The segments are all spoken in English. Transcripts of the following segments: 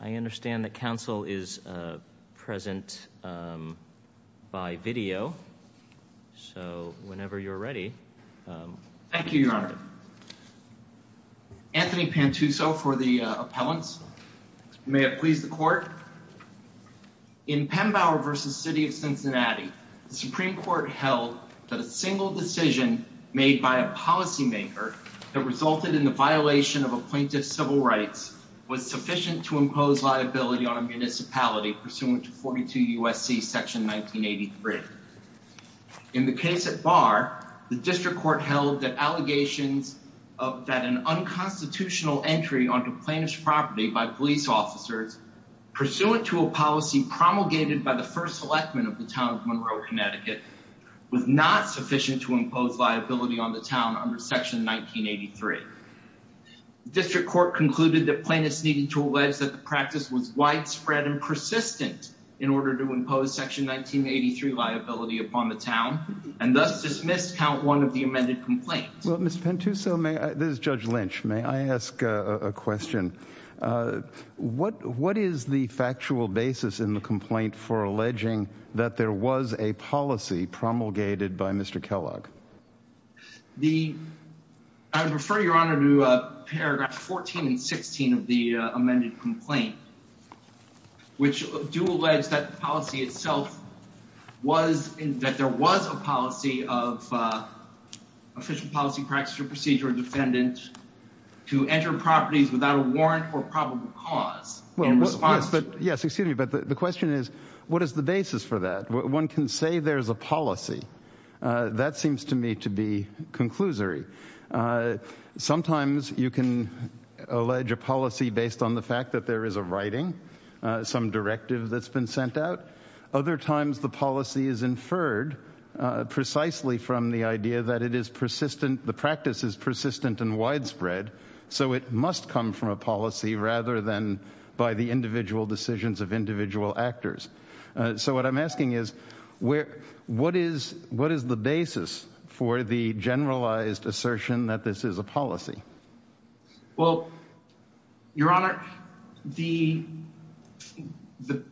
I understand that counsel is present by video. So whenever you're ready, thank you, your honor. Anthony Pantuso for the appellants. May it please the court. In Pembauer v. City of Cincinnati, the Supreme Court held that a single decision made by a policymaker that resulted in the violation of a plaintiff's civil rights was sufficient to impose liability on a municipality pursuant to 42 U.S.C. section 1983. In the case at Barr, the district court held that allegations that an unconstitutional entry onto plaintiff's property by police officers pursuant to a policy promulgated by the first electmen of the town of Monroe, Connecticut, was not sufficient to impose liability on the town under section 1983. The district court concluded that plaintiffs needed to allege that the practice was widespread and persistent in order to impose section 1983 liability upon the town and thus dismissed count one of the amended complaints. Well, Mr. Pantuso, may I, this is Judge Lynch, may I ask a question? What is the factual basis in the complaint for alleging that there was a policy promulgated by Mr. Kellogg? I would refer your honor to paragraph 14 and 16 of the amended complaint, which do allege that policy itself was, that there was a policy of official policy procedure defendant to enter properties without a warrant for probable cause. Yes, excuse me, but the question is what is the basis for that? One can say there's a policy. That seems to me to be conclusory. Sometimes you can allege a policy based on the fact that there is a writing, some directive that's been sent out. Other times the policy is inferred precisely from the idea that it is persistent. The practice is persistent and widespread, so it must come from a policy rather than by the individual decisions of individual actors. So what I'm asking is where, what is, what is the basis for the generalized assertion that this is a policy? Well, your honor, the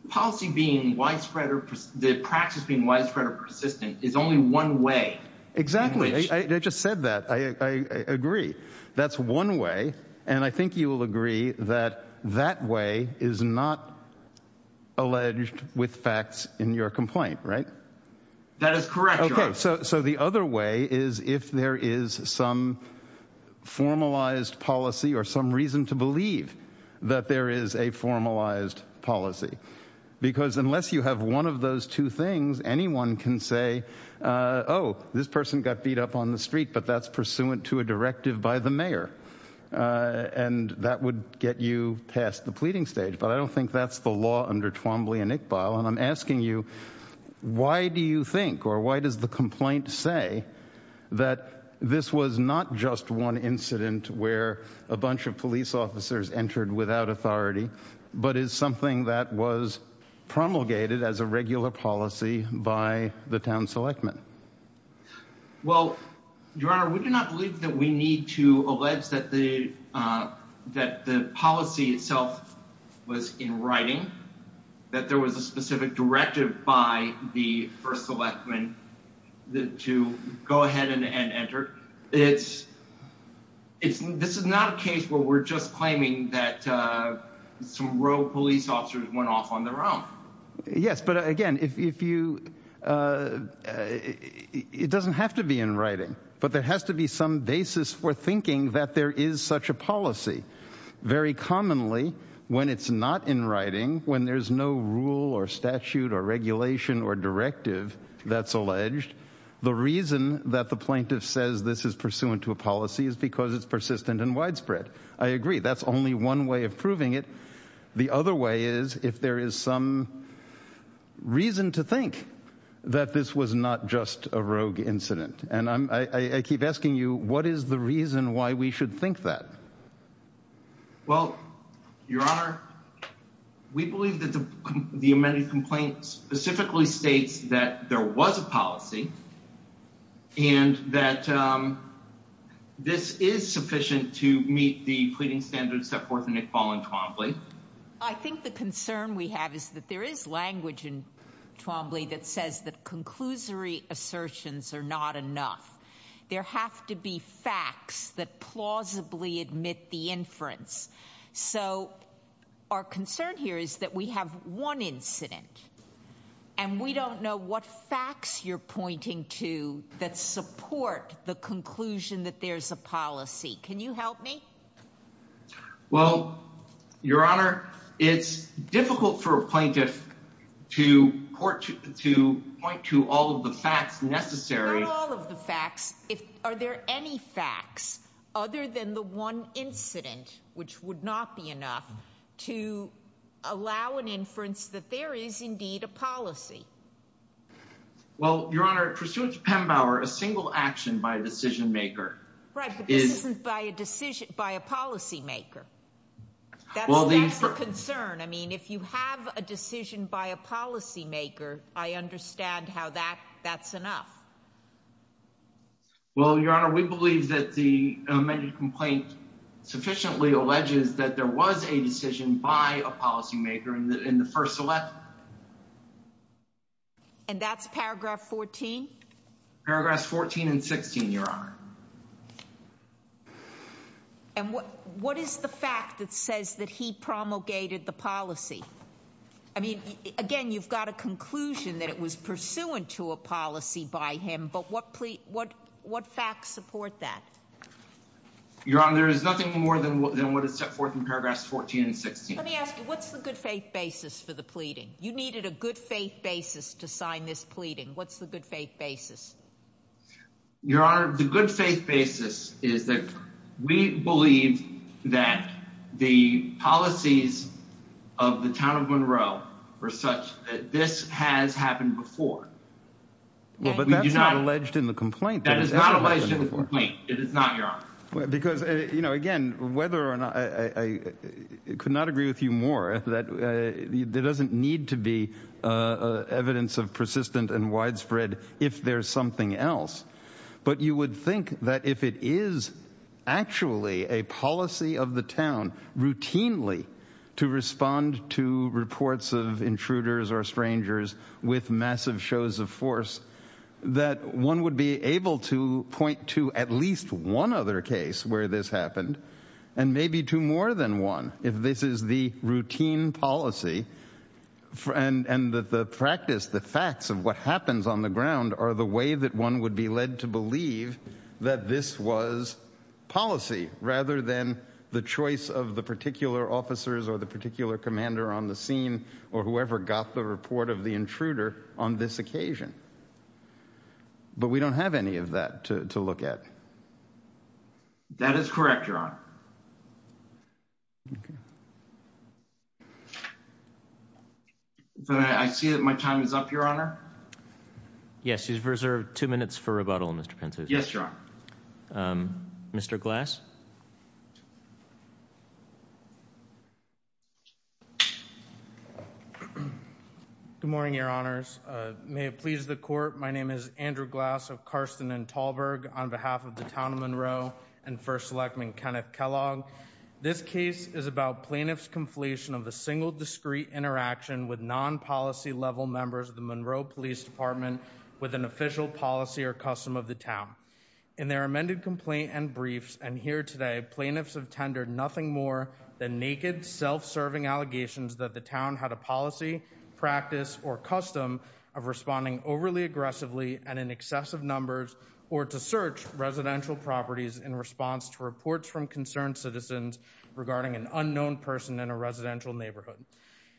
policy being widespread or the practice being persistent is only one way. Exactly. I just said that. I agree. That's one way. And I think you will agree that that way is not alleged with facts in your complaint, right? That is correct. Okay. So, so the other way is if there is some formalized policy or some reason to believe that there is a formalized policy, because unless you have one of those two things, anyone can say, oh, this person got beat up on the street, but that's pursuant to a directive by the mayor. And that would get you past the pleading stage. But I don't think that's the law under Twombly and Iqbal. And I'm asking you, why do you think, or why does the complaint say that this was not just one incident where a bunch of police officers entered without authority, but is something that was promulgated as a regular policy by the town selectmen? Well, your honor, we do not believe that we need to allege that the, uh, that the policy itself was in writing, that there was a specific directive by the first selectmen that to go ahead and enter. It's, it's, this is not a case where we're just claiming that, uh, some row police officers went off on their own. Yes. But again, if you, uh, it doesn't have to be in writing, but there has to be some basis for thinking that there is such a policy. Very commonly when it's not in writing, when there's no rule or statute or regulation or directive that's alleged, the reason that the plaintiff says this is pursuant to a policy is because it's persistent and widespread. I agree. That's only one way of proving it. The other way is if there is some reason to think that this was not just a rogue incident. And I'm, I keep asking you, what is the reason why we should think that? Well, your honor, we believe that the, the amended complaint specifically states that there was a policy and that, um, this is sufficient to meet the pleading standards set forth in Iqbal and Twombly. I think the concern we have is that there is language in that. Conclusory assertions are not enough. There have to be facts that plausibly admit the inference. So our concern here is that we have one incident and we don't know what facts you're pointing to that support the conclusion that there's a policy. Can you help me? Well, your honor, it's difficult for a plaintiff to court to point to all of the facts necessary. Not all of the facts. If, are there any facts other than the one incident, which would not be enough to allow an inference that there is indeed a policy? Well, your honor, pursuant to Pembauer, a single action by a decision maker. Right. But this isn't by a decision by a policy maker. That's the concern. I mean, if you have a decision by a policy maker, I understand how that that's enough. Well, your honor, we believe that the amended complaint sufficiently alleges that there was a decision by a policy maker in the, in the first. And that's paragraph 14. Paragraphs 14 and 16, your honor. And what, what is the fact that says that he promulgated the policy? I mean, again, you've got a conclusion that it was pursuant to a policy by him, but what, what, what facts support that? Your honor, there is nothing more than what is set forth in paragraphs 14 and 16. Let me ask you, what's the good faith basis for the pleading? You needed a good faith basis to sign this pleading. What's the good faith basis? Your honor, the good faith basis is that we believe that the policies of the town of Monroe are such that this has happened before. Well, but that's not alleged in the complaint. That is not alleged in the complaint. It is not, your honor. Because, you know, again, whether or not, I could not agree with you more that there is evidence of persistent and widespread if there's something else. But you would think that if it is actually a policy of the town routinely to respond to reports of intruders or strangers with massive shows of force, that one would be able to point to at least one other case where this happened, and maybe two more than one, if this is the routine policy and that the practice, the facts of what happens on the ground are the way that one would be led to believe that this was policy rather than the choice of the particular officers or the particular commander on the scene or whoever got the report of the intruder on this occasion. But we don't have any of that to look at. That is correct, your honor. I see that my time is up, your honor. Yes, you've reserved two minutes for rebuttal, Mr. Pinto. Yes, your honor. Mr. Glass. Good morning, your honors. May it please the court. My name is Andrew Glass of Carsten and Tallberg on behalf of the town of Monroe and first electman Kenneth Kellogg. This case is about plaintiffs' conflation of a single discrete interaction with non-policy level members of the Monroe Police Department with an official policy or custom of the town. In their amended complaint and briefs and here today, plaintiffs have tendered nothing more than naked, self-serving allegations that the town had a policy, practice, or custom of responding overly aggressively and in excessive numbers or to search residential properties in response to reports from concerned citizens regarding an unknown person in a residential neighborhood.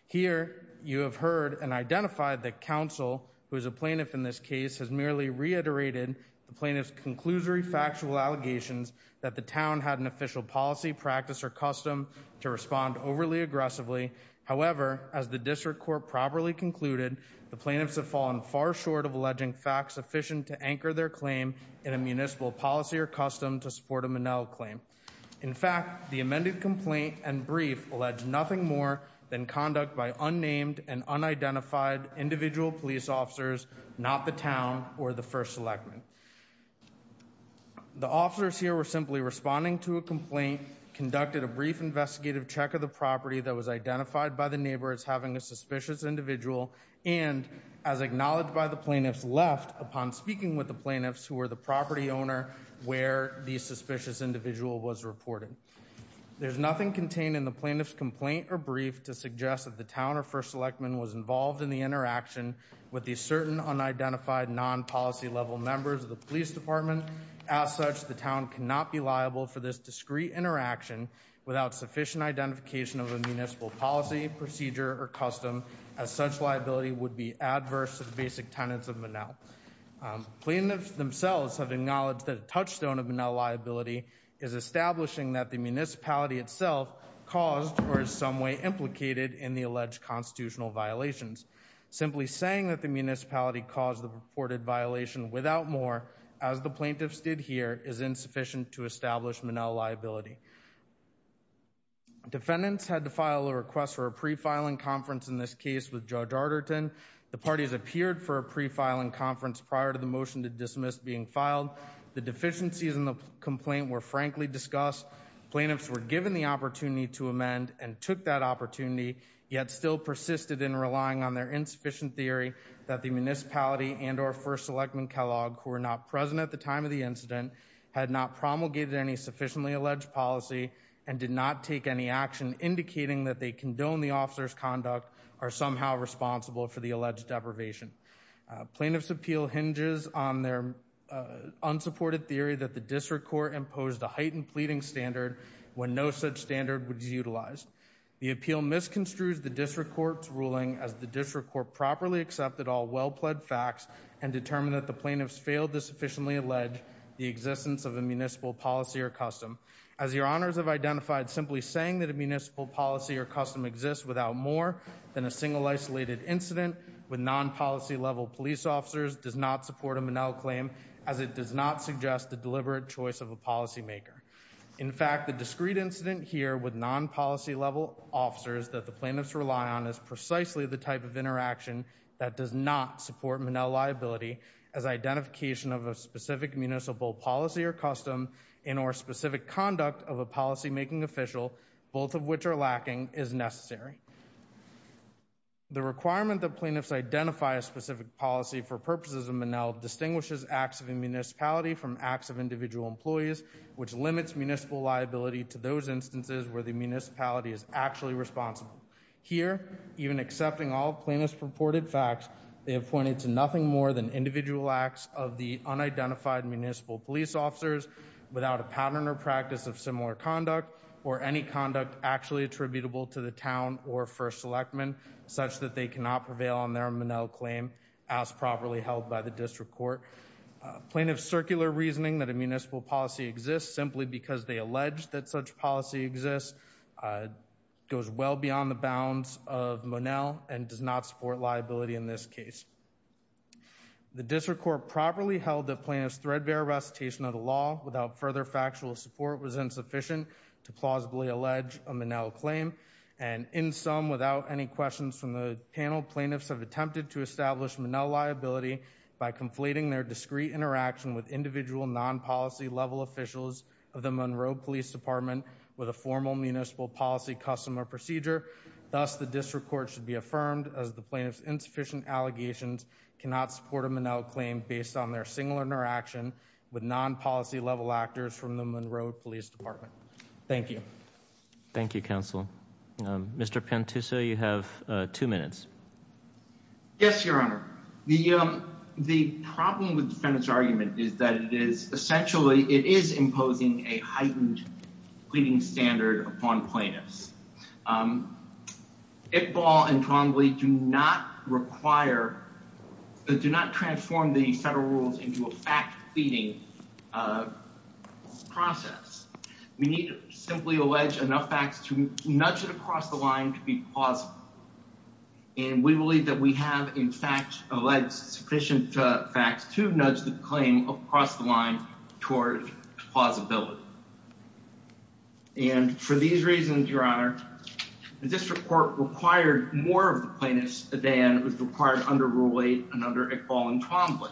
Here, you have heard and identified that counsel, who is a plaintiff in this case, has merely reiterated the plaintiff's conclusory factual allegations that the town had an official policy, practice, or custom to respond overly aggressively. However, as the district court properly concluded, the plaintiffs have fallen far short of alleging facts sufficient to anchor their claim in a municipal policy or custom to support the Minnell claim. In fact, the amended complaint and brief allege nothing more than conduct by unnamed and unidentified individual police officers, not the town or the first electman. The officers here were simply responding to a complaint, conducted a brief investigative check of the property that was identified by the neighbor as having a suspicious individual, and as acknowledged by the plaintiffs left upon speaking with the plaintiffs who were the property owner where the suspicious individual was reported. There's nothing contained in the plaintiff's complaint or brief to suggest that the town or first electman was involved in the interaction with the certain unidentified non-policy level members of the police department. As such, the town cannot be liable for this discreet interaction without sufficient identification of a municipal policy, procedure, or custom, as such liability would be adverse to the basic tenets of Minnell. Plaintiffs themselves have acknowledged that a touchstone of Minnell liability is establishing that the municipality itself caused or in some way implicated in the alleged constitutional violations. Simply saying that the municipality caused the reported violation without more, as the plaintiffs did here, is insufficient to establish Minnell liability. Defendants had to file a request for a pre-filing conference in this case with Judge Arterton. The parties appeared for a pre-filing conference prior to the motion to dismiss being filed. The deficiencies in the complaint were frankly discussed. Plaintiffs were given the opportunity to amend and took that opportunity, yet still persisted in relying on their insufficient theory that the municipality and or first electman Kellogg, who were not present at the time of the incident, had not promulgated any sufficiently alleged policy and did not take any action indicating that they condone the officer's conduct or responsible for the alleged deprivation. Plaintiffs' appeal hinges on their unsupported theory that the district court imposed a heightened pleading standard when no such standard was utilized. The appeal misconstrues the district court's ruling as the district court properly accepted all well-pled facts and determined that the plaintiffs failed to sufficiently allege the existence of a municipal policy or custom. As your honors have identified, simply saying that a municipal policy or custom exists without more than a single isolated incident with non-policy level police officers does not support a Monell claim as it does not suggest the deliberate choice of a policymaker. In fact, the discrete incident here with non-policy level officers that the plaintiffs rely on is precisely the type of interaction that does not support Monell liability as identification of a specific municipal policy or custom and or specific conduct of a policymaking official, both of which are lacking, is necessary. The requirement that plaintiffs identify a specific policy for purposes of Monell distinguishes acts of a municipality from acts of individual employees, which limits municipal liability to those instances where the municipality is actually responsible. Here, even accepting all plaintiffs' purported facts, they have pointed to nothing more than individual acts of the unidentified municipal police officers without a pattern or practice of similar conduct or any conduct actually attributable to the town or First Selectman, such that they cannot prevail on their Monell claim as properly held by the district court. Plaintiffs' circular reasoning that a municipal policy exists simply because they allege that such policy exists goes well beyond the bounds of Monell and does not support liability in this case. The district court properly held that plaintiffs' threadbare recitation of the law without further factual support was insufficient to plausibly allege a Monell claim, and in sum, without any questions from the panel, plaintiffs have attempted to establish Monell liability by conflating their discrete interaction with individual non-policy level officials of the Monroe Police Department with a formal municipal policy custom or procedure. Thus, the district court should be affirmed as the plaintiffs' insufficient allegations cannot support a Monell claim based on their single interaction with non-policy level actors from the Monroe Police Department. Thank you. Thank you, counsel. Mr. Pantuso, you have two minutes. Yes, your honor. The problem with the defendant's argument is that it is, essentially, it is imposing a heightened pleading standard upon plaintiffs. Iqbal and Connolly do not require, do not transform the federal rules into a fact pleading process. We need to simply allege enough facts to nudge it across the line to be plausible, and we believe that we have, in fact, alleged sufficient facts to nudge the claim across the line. The district court required more of the plaintiffs than was required under Rule 8 and under Iqbal and Connolly,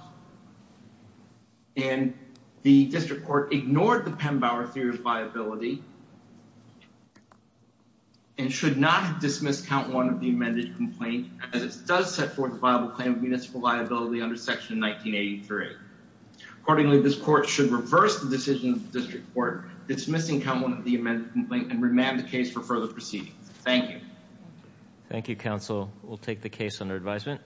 and the district court ignored the Pembauer theory of liability and should not dismiss count one of the amended complaint as it does set forth a viable claim of municipal liability under section 1983. Accordingly, this court should reverse the decision of the district court dismissing count one of the amended complaint and remand the case for proceedings. Thank you. Thank you, counsel. We'll take the case under advisement.